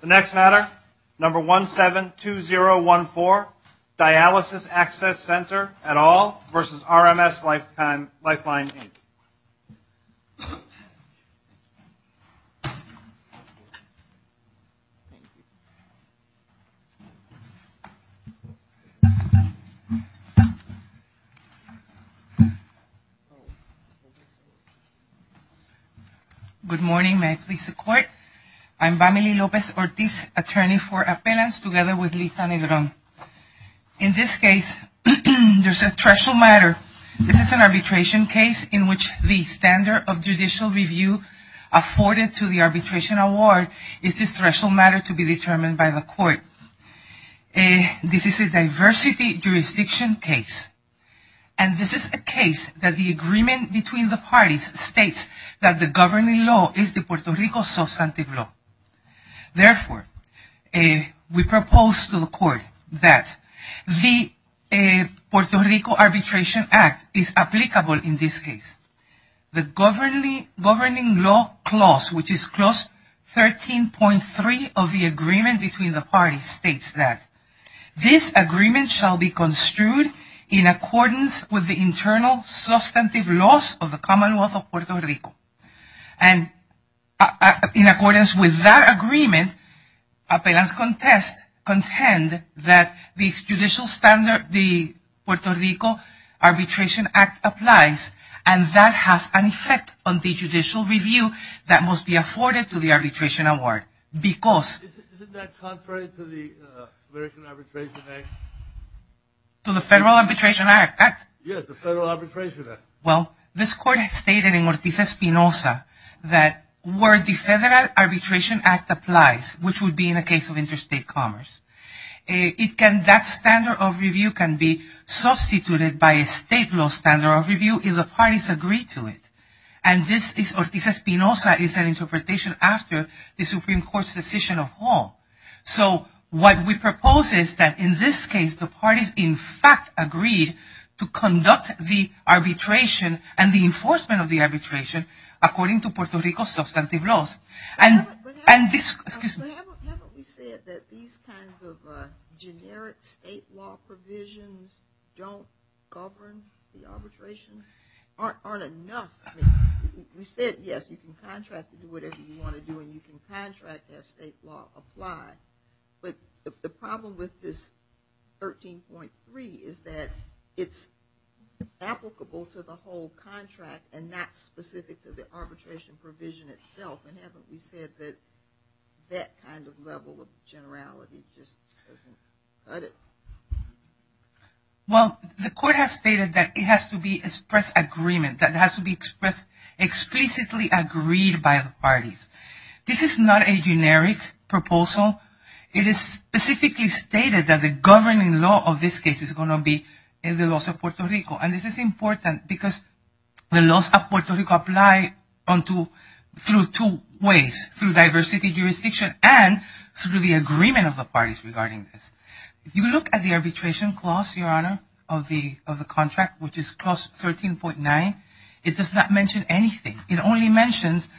The next matter, number 172014, Dialysis Access Center, et al. v. RMS Lifeline, Inc. Good morning. May I please the Court? I'm Vamily Lopez-Ortiz, attorney for appellants together with Lisa Negron. In this case, there's a threshold matter. This is an arbitration case in which the standard of judicial review afforded to the arbitration award is the threshold matter to be determined by the Court. This is a diversity jurisdiction case. And this is a case that the agreement between the parties states that the governing law is the Puerto Rico substantive law. Therefore, we propose to the Court that the Puerto Rico Arbitration Act is applicable in this case. The governing law clause, which is clause 13.3 of the agreement between the parties states that this agreement shall be construed in accordance with the internal substantive laws of the common law of Puerto Rico. And in accordance with that agreement, appellants contend that this judicial standard, the Puerto Rico Arbitration Act applies, and that has an effect on the judicial review that must be afforded to the arbitration award. Isn't that contrary to the American Arbitration Act? To the Federal Arbitration Act? Yes, the Federal Arbitration Act. Well, this Court has stated in Ortiz-Espinosa that where the Federal Arbitration Act applies, which would be in a case of interstate commerce, that standard of review can be substituted by a state law standard of review if the parties agree to it. And this is, Ortiz-Espinosa is an interpretation after the Supreme Court's decision of law. So what we propose is that in this case, the parties in fact agreed to conduct the arbitration and the enforcement of the arbitration according to Puerto Rico's substantive laws. But haven't we said that these kinds of generic state law provisions don't govern the arbitration? Aren't enough? We said, yes, you can contract to do whatever you want to do, and you can contract to have state law apply. But the problem with this 13.3 is that it's applicable to the whole contract and not specific to the arbitration provision itself. And haven't we said that that kind of level of generality just doesn't cut it? Well, the Court has stated that it has to be expressed agreement, that it has to be expressed explicitly agreed by the parties. This is not a generic proposal. It is specifically stated that the governing law of this case is going to be the laws of Puerto Rico. And this is important because the laws of Puerto Rico apply through two ways, through diversity jurisdiction and through the agreement of the parties regarding this. If you look at the arbitration clause, Your Honor, of the contract, which is clause 13.9, it does not mention anything. It only mentions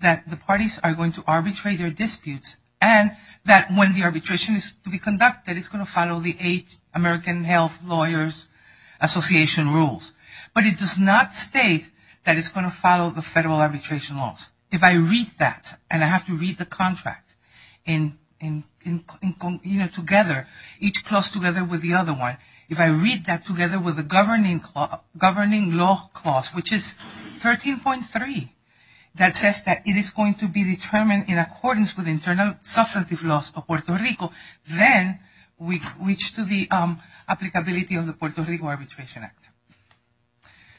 that the parties are going to arbitrate their disputes and that when the arbitration is to be conducted, that it's going to follow the eight American Health Lawyers Association rules. But it does not state that it's going to follow the federal arbitration laws. If I read that, and I have to read the contract together, each clause together with the other one, if I read that together with the governing law clause, which is 13.3, that says that it is going to be determined in accordance with internal substantive laws of Puerto Rico, then we reach to the applicability of the Puerto Rico Arbitration Act.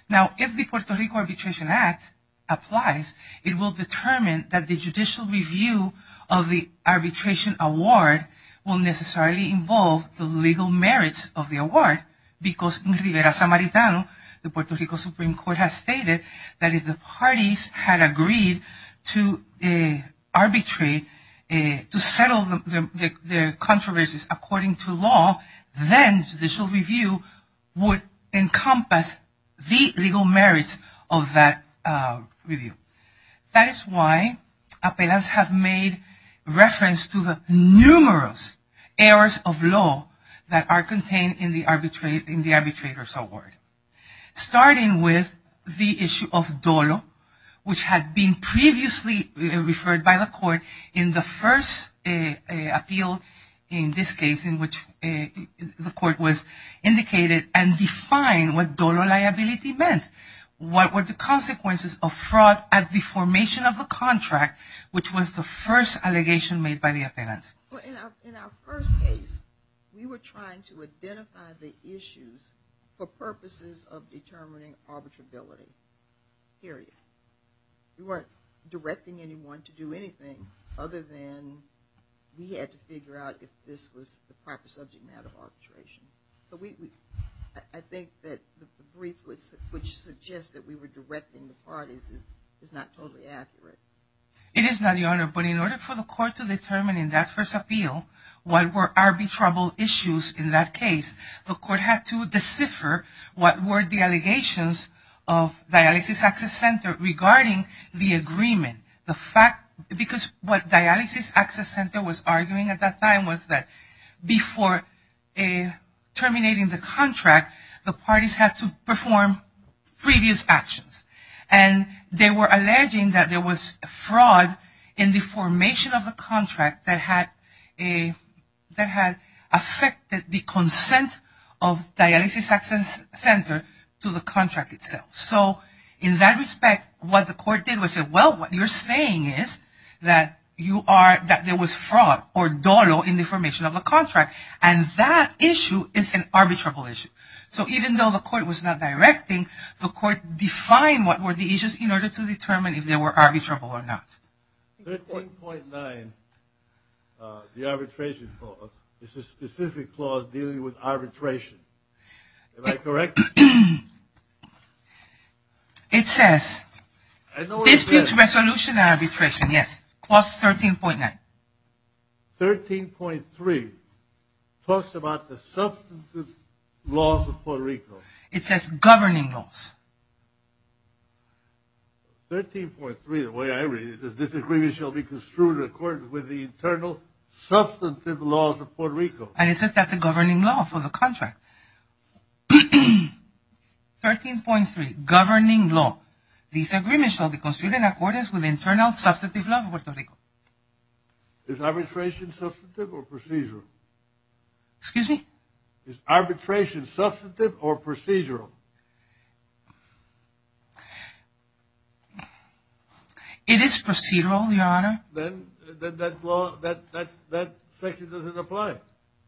Now, if the Puerto Rico Arbitration Act applies, it will determine that the judicial review of the arbitration award will necessarily involve the legal merits of the award because in Rivera-Samaritano, the Puerto Rico Supreme Court has stated that if the parties had agreed to arbitrate, to settle their controversies according to law, then judicial review would encompass the legal merits of that review. That is why appellants have made reference to the numerous errors of law that are contained in the arbitrator's award. Starting with the issue of dolo, which had been previously referred by the court in the first appeal, in this case in which the court was indicated and defined what dolo liability meant. What were the consequences of fraud at the formation of the contract, which was the first allegation made by the appellant? In our first case, we were trying to identify the issues for purposes of determining arbitrability, period. We weren't directing anyone to do anything other than we had to figure out if this was the proper subject matter of arbitration. I think that the brief which suggests that we were directing the parties is not totally accurate. It is not, Your Honor, but in order for the court to determine in that first appeal what were arbitrable issues in that case, the court had to decipher what were the allegations of Dialysis Access Center regarding the agreement. Because what Dialysis Access Center was arguing at that time was that before terminating the contract, the parties had to perform previous actions. They were alleging that there was fraud in the formation of the contract that had affected the consent of Dialysis Access Center to the contract itself. So in that respect, what the court did was say, well, what you're saying is that there was fraud or dolo in the formation of the contract. And that issue is an arbitrable issue. So even though the court was not directing, the court defined what were the issues in order to determine if they were arbitrable or not. 13.9, the arbitration clause, is a specific clause dealing with arbitration. Am I correct? It says dispute resolution arbitration, yes. Clause 13.9. 13.3 talks about the substantive laws of Puerto Rico. It says governing laws. 13.3, the way I read it, is this agreement shall be construed in accordance with the internal substantive laws of Puerto Rico. And it says that's a governing law for the contract. 13.3, governing law. This agreement shall be construed in accordance with internal substantive laws of Puerto Rico. Is arbitration substantive or procedural? Excuse me? Is arbitration substantive or procedural? It is procedural, Your Honor. Then that clause, that section doesn't apply.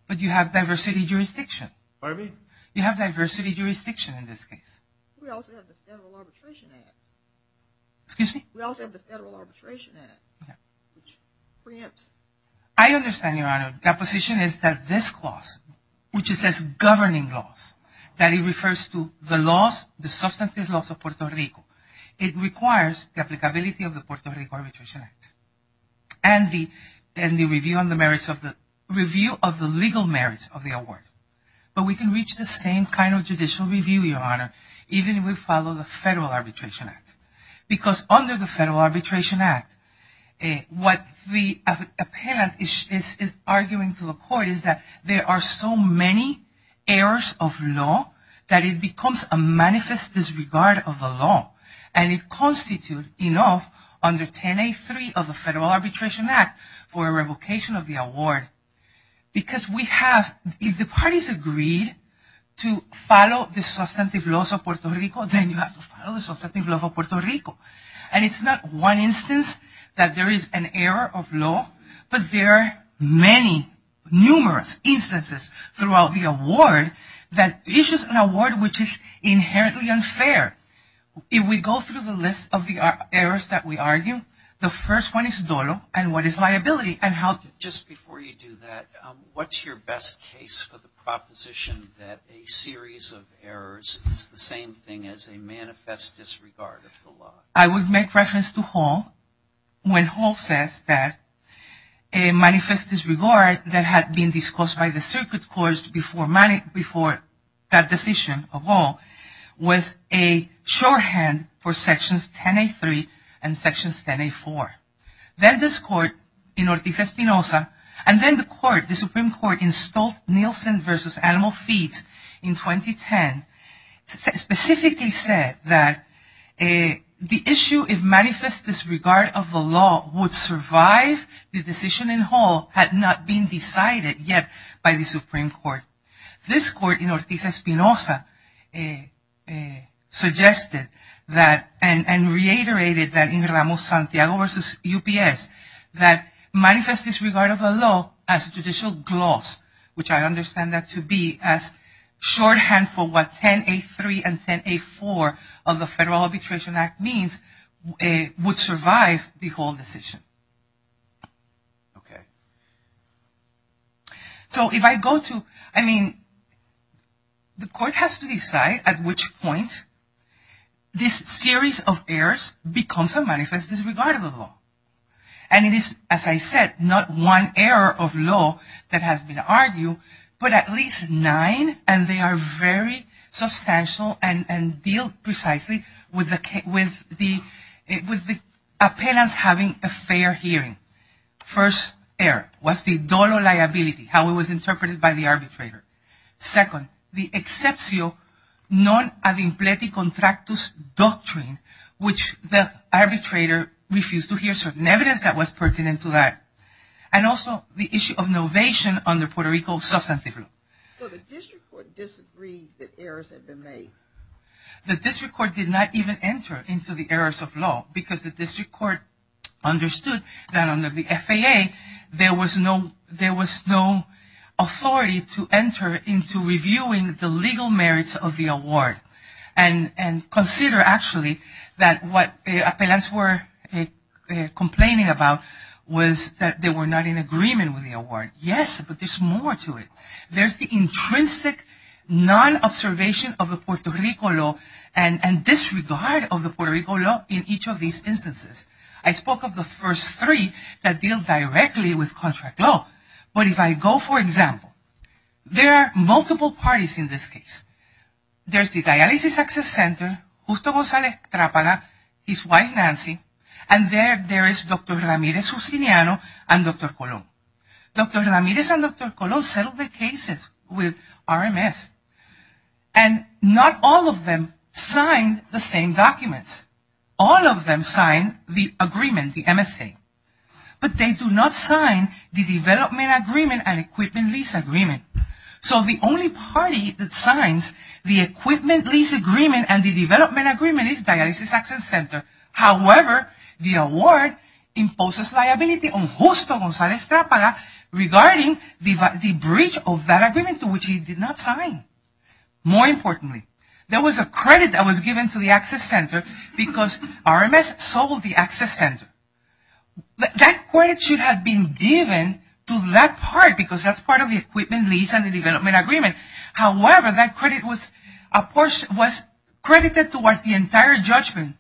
But you have diversity jurisdiction. Pardon me? You have diversity jurisdiction in this case. We also have the Federal Arbitration Act. Excuse me? We also have the Federal Arbitration Act, which preempts. I understand, Your Honor. The opposition is that this clause, which says governing laws, that it refers to the laws, the substantive laws of Puerto Rico. It requires the applicability of the Puerto Rico Arbitration Act and the review of the legal merits of the award. But we can reach the same kind of judicial review, Your Honor, even if we follow the Federal Arbitration Act. Because under the Federal Arbitration Act, what the appellant is arguing to the court is that there are so many errors of law that it becomes a manifest disregard of the law. And it constitutes enough under 10A3 of the Federal Arbitration Act for revocation of the award. Because we have, if the parties agreed to follow the substantive laws of Puerto Rico, then you have to follow the substantive laws of Puerto Rico. And it's not one instance that there is an error of law, but there are many, numerous instances throughout the award that issues an award which is inherently unfair. If we go through the list of the errors that we argue, the first one is dolo and what is liability and how to Just before you do that, what's your best case for the proposition that a series of errors is the same thing as a manifest disregard of the law? I would make reference to Hall when Hall says that a manifest disregard that had been discussed by the circuit courts before that decision of Hall was a shorthand for Sections 10A3 and Sections 10A4. Then this Court in Ortiz-Espinosa and then the Supreme Court in Stolt-Nielsen v. Animal Feeds in 2010 specifically said that the issue if manifest disregard of the law would survive the decision in Hall had not been decided yet by the Supreme Court. This Court in Ortiz-Espinosa suggested that and reiterated that in Ramos-Santiago v. UPS that manifest disregard of the law as judicial gloss, which I understand that to be as shorthand for what 10A3 and 10A4 of the Federal Arbitration Act means, would survive the whole decision. So if I go to, I mean, the Court has to decide at which point this series of errors becomes a manifest disregard of the law. And it is, as I said, not one error of law that has been argued, but at least nine and they are very substantial and deal precisely with the appealants having a fair hearing. First error was the dollar liability, how it was interpreted by the arbitrator. Second, the excepcio non ad impleti contractus doctrine, which the arbitrator refused to hear certain evidence that was pertinent to that. And also the issue of novation under Puerto Rico substantive law. So the District Court disagreed that errors had been made? The District Court did not even enter into the errors of law because the District Court understood that under the FAA there was no, there was no authority to enter into reviewing the legal merits of the award. And consider actually that what the appealants were complaining about was that they were not in agreement with the award. Yes, but there's more to it. There's the intrinsic non-observation of the Puerto Rico law and disregard of the Puerto Rico law in each of these instances. I spoke of the first three that deal directly with contract law. But if I go, for example, there are multiple parties in this case. There's the Dialysis Access Center, Gusto Gonzales-Trapala, his wife Nancy, and there is Dr. Ramirez-Husiniano and Dr. Colón. Dr. Ramirez and Dr. Colón settled the cases with RMS and not all of them signed the same documents. All of them signed the agreement, the MSA. But they do not sign the Development Agreement and Equipment Lease Agreement. So the only party that signs the Equipment Lease Agreement and the Development Agreement is Dialysis Access Center. However, the award imposes liability on Gusto Gonzales-Trapala regarding the breach of that agreement to which he did not sign. More importantly, there was a credit that was given to the Access Center because RMS sold the Access Center. That credit should have been given to that part because that's part of the Equipment Lease and the Development Agreement. However, that credit was credited towards the entire judgment.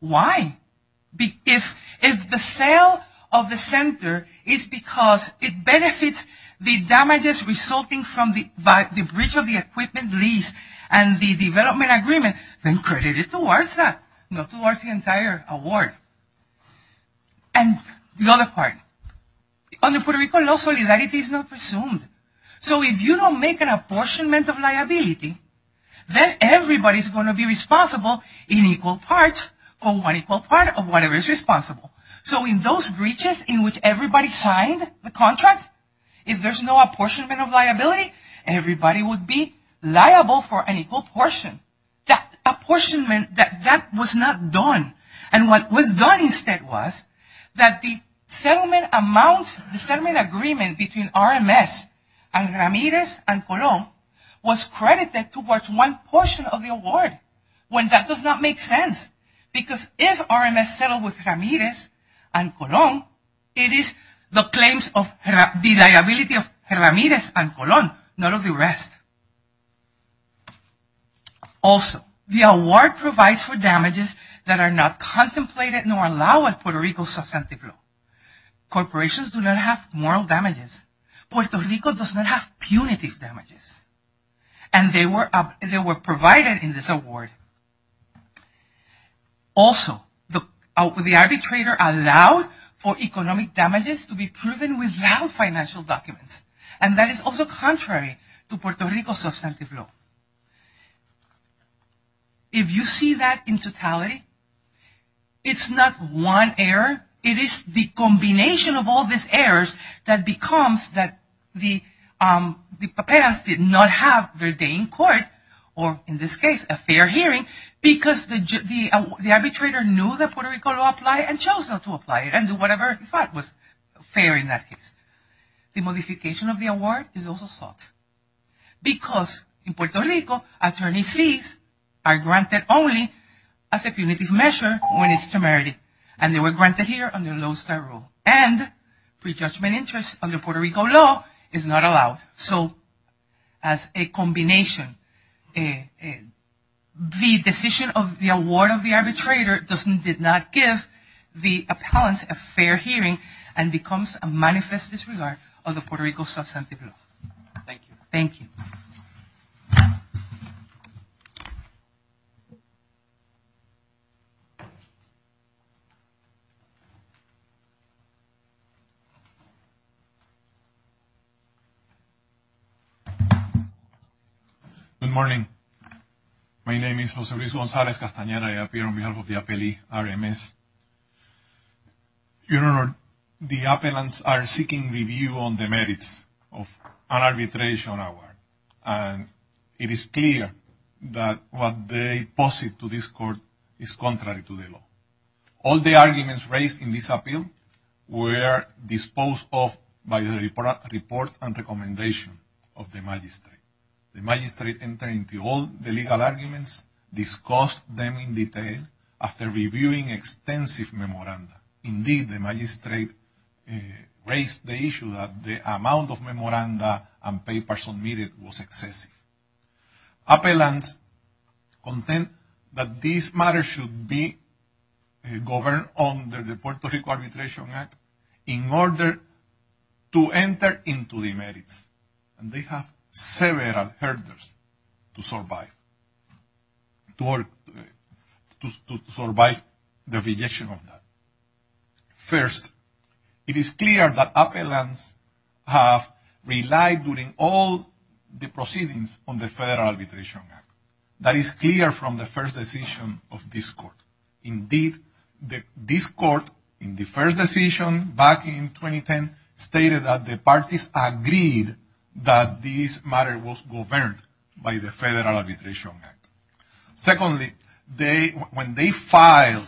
Why? If the sale of the center is because it benefits the damages resulting from the breach of the Equipment Lease and the Development Agreement, then credit it towards that, not towards the entire award. And the other part. Under Puerto Rico, no solidarity is presumed. So if you don't make an apportionment of liability, then everybody is going to be responsible in equal parts, for one equal part of whatever is responsible. So in those breaches in which everybody signed the contract, if there's no apportionment of liability, everybody would be liable for an equal portion. That apportionment, that was not done. And what was done instead was that the settlement amount, the settlement agreement between RMS and Ramirez and Colón was credited towards one portion of the award when that does not make sense. Because if RMS settled with Ramirez and Colón, it is the claims of the liability of Ramirez and Colón, not of the rest. Also, the award provides for damages that are not contemplated nor allowed at Puerto Rico's subsidiary. Corporations do not have moral damages. Puerto Rico does not have punitive damages. And they were provided in this award. Also, the arbitrator allowed for economic damages to be proven without financial documents. And that is also contrary to Puerto Rico's substantive law. If you see that in totality, it's not one error. It is the combination of all these errors that becomes that the paperas did not have their day in court, or in this case, a fair hearing, because the arbitrator knew that Puerto Rico would apply and chose not to apply it and do whatever he thought was fair in that case. The modification of the award is also sought. Because in Puerto Rico, attorney's fees are granted only as a punitive measure when it's temerity. And they were granted here under low-star rule. And prejudgment interest under Puerto Rico law is not allowed. So as a combination, the decision of the award of the arbitrator did not give the appellants a fair hearing and becomes a manifest disregard of the Puerto Rico substantive law. Thank you. Thank you. Good morning. My name is Jose Luis Gonzalez-Castaneda. I appear on behalf of the appellee, RMS. Your Honor, the appellants are seeking review on the merits of an arbitration award. And it is clear that what they posit to this court is contrary to the law. All the arguments raised in this appeal were disposed of by the report and recommendation of the magistrate. The magistrate entered into all the legal arguments, discussed them in detail after reviewing extensive memoranda. Indeed, the magistrate raised the issue that the amount of memoranda and papers submitted was excessive. Appellants contend that this matter should be governed under the Puerto Rico Arbitration Act in order to enter into the merits. And they have several hurdles to survive the rejection of that. First, it is clear that appellants have relied during all the proceedings on the Federal Arbitration Act. That is clear from the first decision of this court. Indeed, this court, in the first decision back in 2010, stated that the parties agreed that this matter was governed by the Federal Arbitration Act. Secondly, when they filed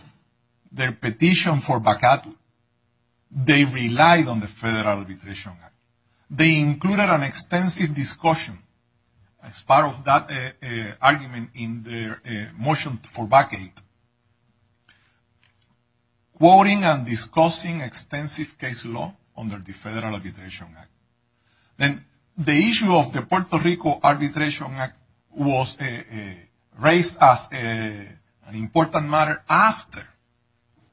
their petition for vacatu, they relied on the Federal Arbitration Act. They included an extensive discussion as part of that argument in their motion for vacatu. Quoting and discussing extensive case law under the Federal Arbitration Act. The issue of the Puerto Rico Arbitration Act was raised as an important matter after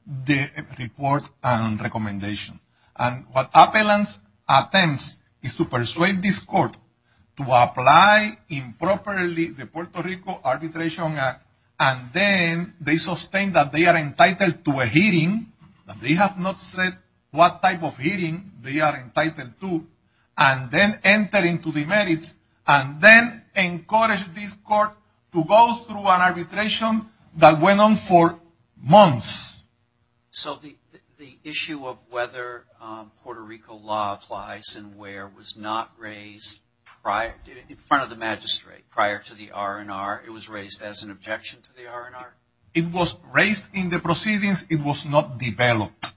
the report and recommendation. And what appellants attempt is to persuade this court to apply improperly the Puerto Rico Arbitration Act. And then they sustain that they are entitled to a hearing. They have not said what type of hearing they are entitled to. And then enter into the merits. And then encourage this court to go through an arbitration that went on for months. So the issue of whether Puerto Rico law applies and where was not raised in front of the magistrate prior to the R&R. It was raised as an objection to the R&R? It was raised in the proceedings. It was not developed.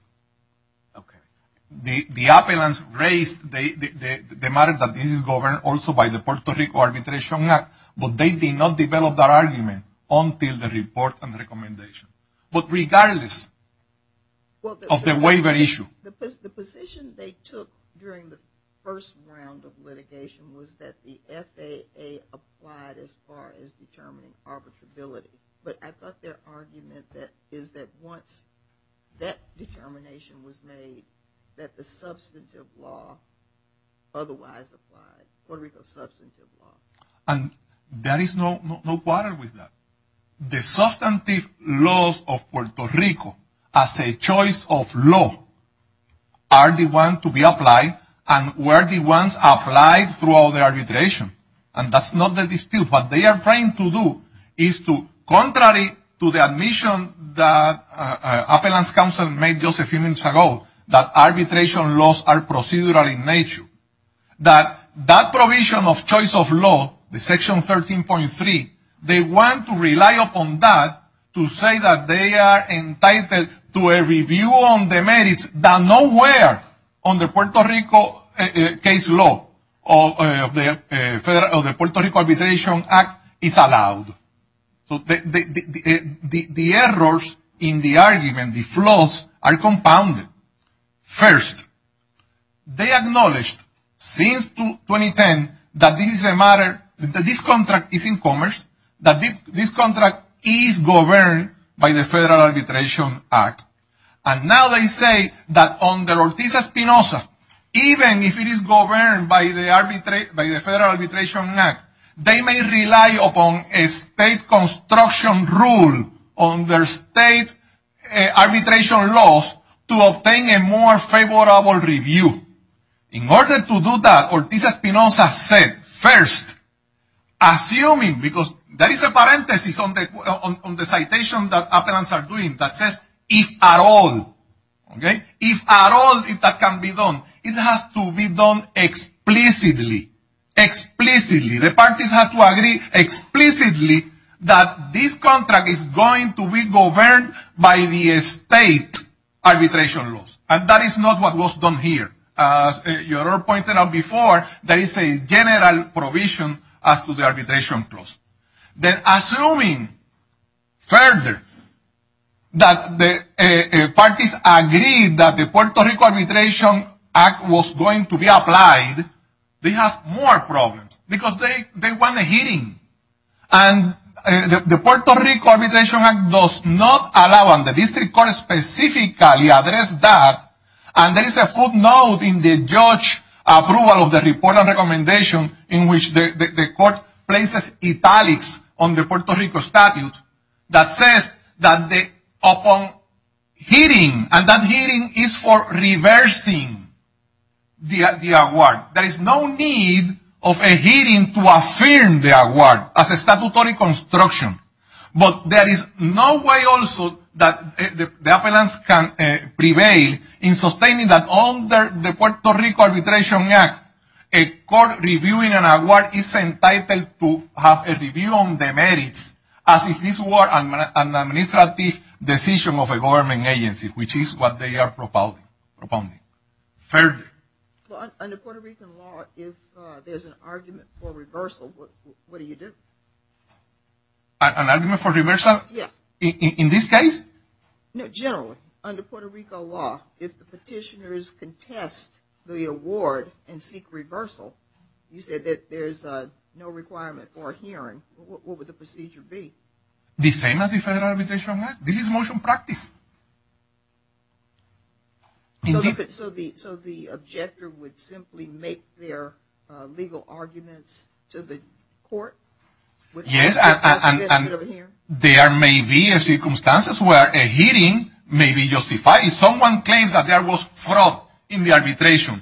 Okay. The appellants raised the matter that this is governed also by the Puerto Rico Arbitration Act. But they did not develop that argument until the report and recommendation. But regardless of the waiver issue. The position they took during the first round of litigation was that the FAA applied as far as determining arbitrability. But I thought their argument is that once that determination was made that the substantive law otherwise applied. Puerto Rico's substantive law. And there is no quarter with that. The substantive laws of Puerto Rico as a choice of law are the ones to be applied. And were the ones applied throughout the arbitration. And that's not the dispute. What they are trying to do is to, contrary to the admission that appellant's counsel made just a few minutes ago. That arbitration laws are procedural in nature. That provision of choice of law, the section 13.3. They want to rely upon that to say that they are entitled to a review on the merits. That nowhere on the Puerto Rico case law of the Puerto Rico Arbitration Act is allowed. The errors in the argument, the flaws, are compounded. First, they acknowledged since 2010 that this contract is in commerce. That this contract is governed by the Federal Arbitration Act. And now they say that under Ortiz-Espinosa, even if it is governed by the Federal Arbitration Act. They may rely upon a state construction rule on their state arbitration laws to obtain a more favorable review. In order to do that, Ortiz-Espinosa said, first, assuming, because there is a parenthesis on the citation that appellants are doing. That says, if at all. If at all that can be done. It has to be done explicitly. Explicitly. The parties have to agree explicitly that this contract is going to be governed by the state arbitration laws. And that is not what was done here. As you all pointed out before, there is a general provision as to the arbitration clause. Assuming further that the parties agreed that the Puerto Rico Arbitration Act was going to be applied. They have more problems. Because they want a hearing. And the Puerto Rico Arbitration Act does not allow, and the district court specifically addressed that. And there is a footnote in the judge approval of the report of recommendation in which the court places italics on the Puerto Rico statute. That says that upon hearing, and that hearing is for reversing the award. There is no need of a hearing to affirm the award as a statutory construction. But there is no way also that the appellants can prevail in sustaining that under the Puerto Rico Arbitration Act, a court reviewing an award is entitled to have a review on the merits as if this were an administrative decision of a government agency. Which is what they are propounding. Further. Under Puerto Rico law, if there is an argument for reversal, what do you do? An argument for reversal? Yes. In this case? No, generally. Under Puerto Rico law, if the petitioners contest the award and seek reversal, you said that there is no requirement for a hearing. What would the procedure be? The same as the Federal Arbitration Act. This is motion practice. So the objector would simply make their legal arguments to the court? Yes, and there may be circumstances where a hearing may be justified if someone claims that there was fraud in the arbitration.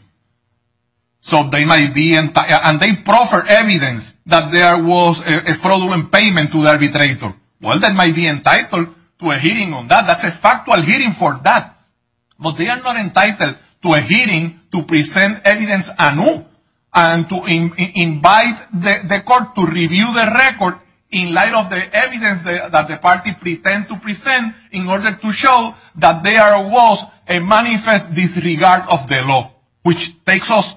And they proffer evidence that there was a fraudulent payment to the arbitrator. Well, they might be entitled to a hearing on that. That's a factual hearing for that. But they are not entitled to a hearing to present evidence anew and to invite the court to review the record in light of the evidence that the party pretend to present in order to show that there was a manifest disregard of the law. Which takes us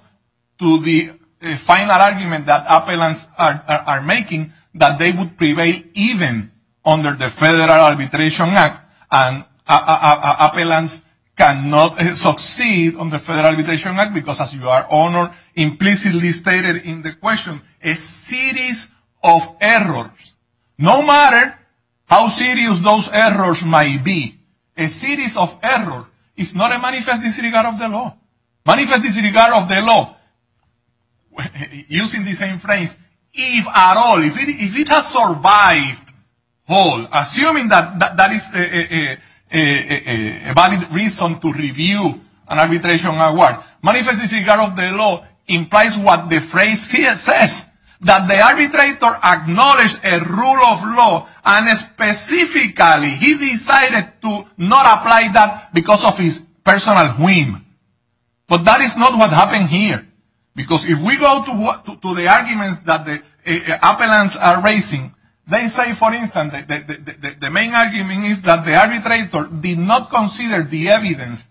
to the final argument that appellants are making, that they would prevail even under the Federal Arbitration Act. And appellants cannot succeed under the Federal Arbitration Act because, as your Honor implicitly stated in the question, a series of errors. No matter how serious those errors might be, a series of errors is not a manifest disregard of the law. Manifest disregard of the law, using the same phrase, if at all, if it has survived, assuming that that is a valid reason to review an arbitration award. Manifest disregard of the law implies what the phrase says, that the arbitrator acknowledged a rule of law and specifically he decided to not apply that because of his personal whim. But that is not what happened here. Because if we go to the arguments that the appellants are raising, they say, for instance, that the main argument is that the arbitrator did not consider the evidence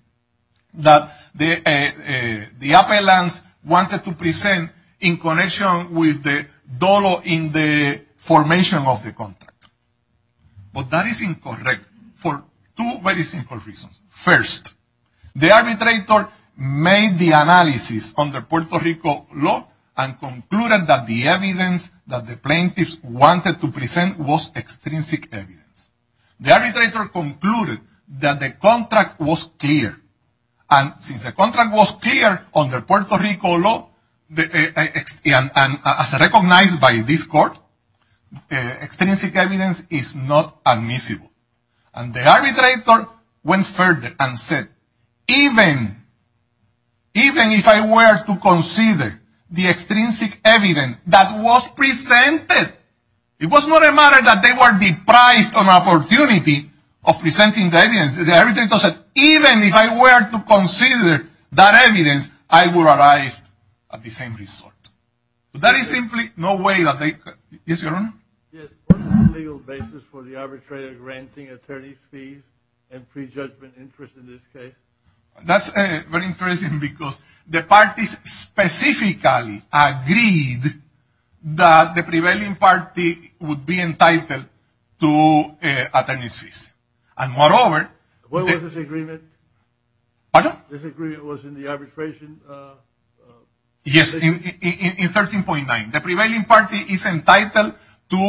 that the appellants wanted to present in connection with the dollar in the formation of the contract. But that is incorrect for two very simple reasons. First, the arbitrator made the analysis under Puerto Rico law and concluded that the evidence that the plaintiffs wanted to present was extrinsic evidence. The arbitrator concluded that the contract was clear. And since the contract was clear under Puerto Rico law, as recognized by this Court, extrinsic evidence is not admissible. And the arbitrator went further and said, even if I were to consider the extrinsic evidence that was presented, it was not a matter that they were deprived of an opportunity of presenting the evidence. The arbitrator said, even if I were to consider that evidence, I would arrive at the same result. But that is simply no way that they could. Yes, Your Honor? Yes, what is the legal basis for the arbitrator granting attorney's fees and prejudgment interest in this case? That's very interesting because the parties specifically agreed that the prevailing party would be entitled to attorney's fees. And moreover, What was this agreement? Pardon? This agreement was in the arbitration? Yes, in 13.9. The prevailing party is entitled to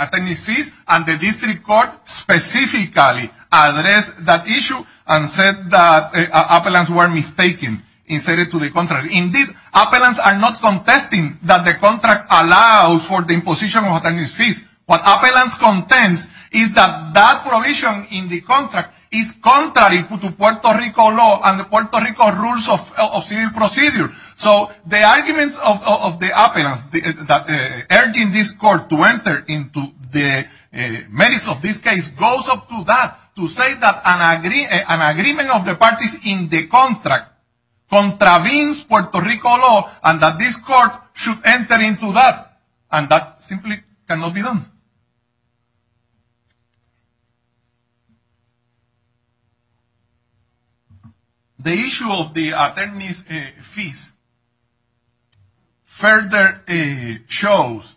attorney's fees. And the district court specifically addressed that issue and said that appellants were mistaken and said it to the contrary. Indeed, appellants are not contesting that the contract allows for the imposition of attorney's fees. What appellants contends is that that provision in the contract is contrary to Puerto Rico law and the Puerto Rico rules of civil procedure. So, the arguments of the appellants urging this court to enter into the merits of this case goes up to that. To say that an agreement of the parties in the contract contravenes Puerto Rico law and that this court should enter into that. And that simply cannot be done. The issue of the attorney's fees further shows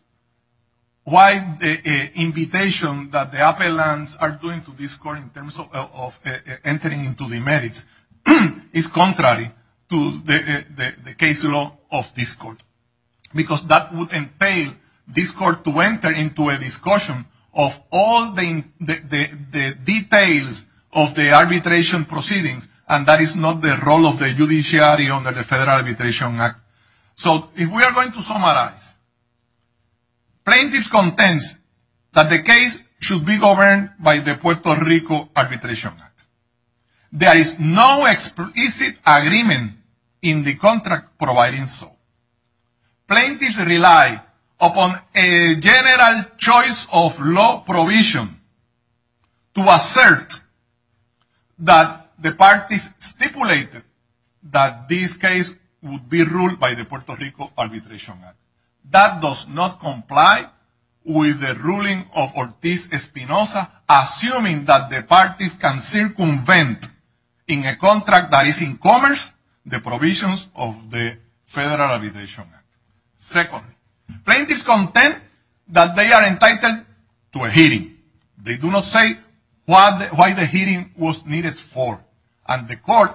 why the invitation that the appellants are doing to this court in terms of entering into the merits is contrary to the case law of this court. Because that would entail this court to enter into a discussion of all the details of the arbitration proceedings. And that is not the role of the judiciary under the Federal Arbitration Act. So, if we are going to summarize, plaintiffs contends that the case should be governed by the Puerto Rico Arbitration Act. There is no explicit agreement in the contract providing so. Plaintiffs rely upon a general choice of law provision to assert that the parties stipulated that this case would be ruled by the Puerto Rico Arbitration Act. That does not comply with the ruling of Ortiz-Espinosa assuming that the parties can circumvent in a contract that is in commerce the provisions of the Federal Arbitration Act. Second, plaintiffs contend that they are entitled to a hearing. They do not say why the hearing was needed for. And the court,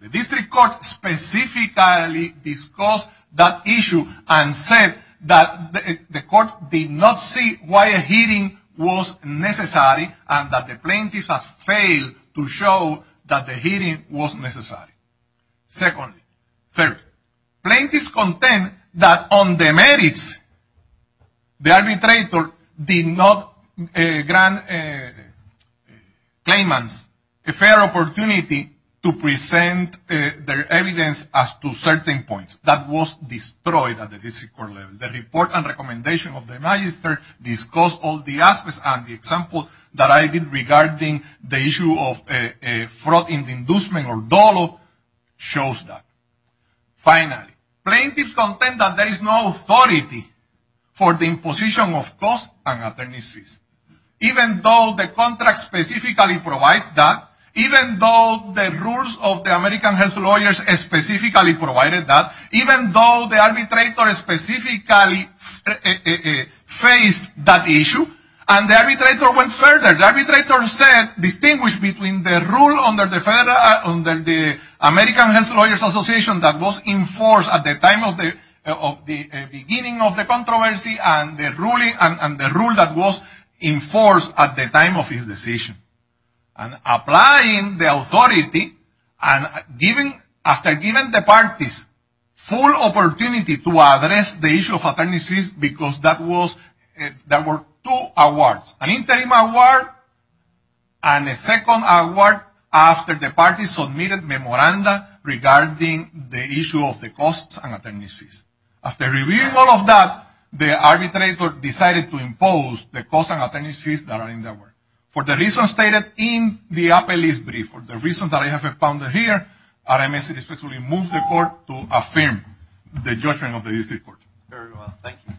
the district court, specifically discussed that issue and said that the court did not see why a hearing was necessary and that the plaintiffs have failed to show that the hearing was necessary. Secondly, third, plaintiffs contend that on the merits, the arbitrator did not grant claimants a fair opportunity to present their evidence as to certain points. That was destroyed at the district court level. The report and recommendation of the magistrate discussed all the aspects and the example that I did regarding the issue of fraud in the inducement or dollop shows that. Finally, plaintiffs contend that there is no authority for the imposition of costs and attorneys' fees. Even though the contract specifically provides that. Even though the rules of the American Health Lawyers specifically provided that. Even though the arbitrator specifically faced that issue. And the arbitrator went further. The arbitrator said, distinguish between the rule under the American Health Lawyers Association that was enforced at the beginning of the controversy and the rule that was enforced at the time of his decision. And applying the authority and giving, after giving the parties full opportunity to address the issue of attorneys' fees because that was, there were two awards. An interim award and a second award after the parties submitted memoranda regarding the issue of the costs and attorneys' fees. After reviewing all of that, the arbitrator decided to impose the costs and attorneys' fees that are in the award. For the reasons stated in the appellee's brief. For the reasons that I have expounded here, RMS respectfully moves the court to affirm the judgment of the district court. Thank you.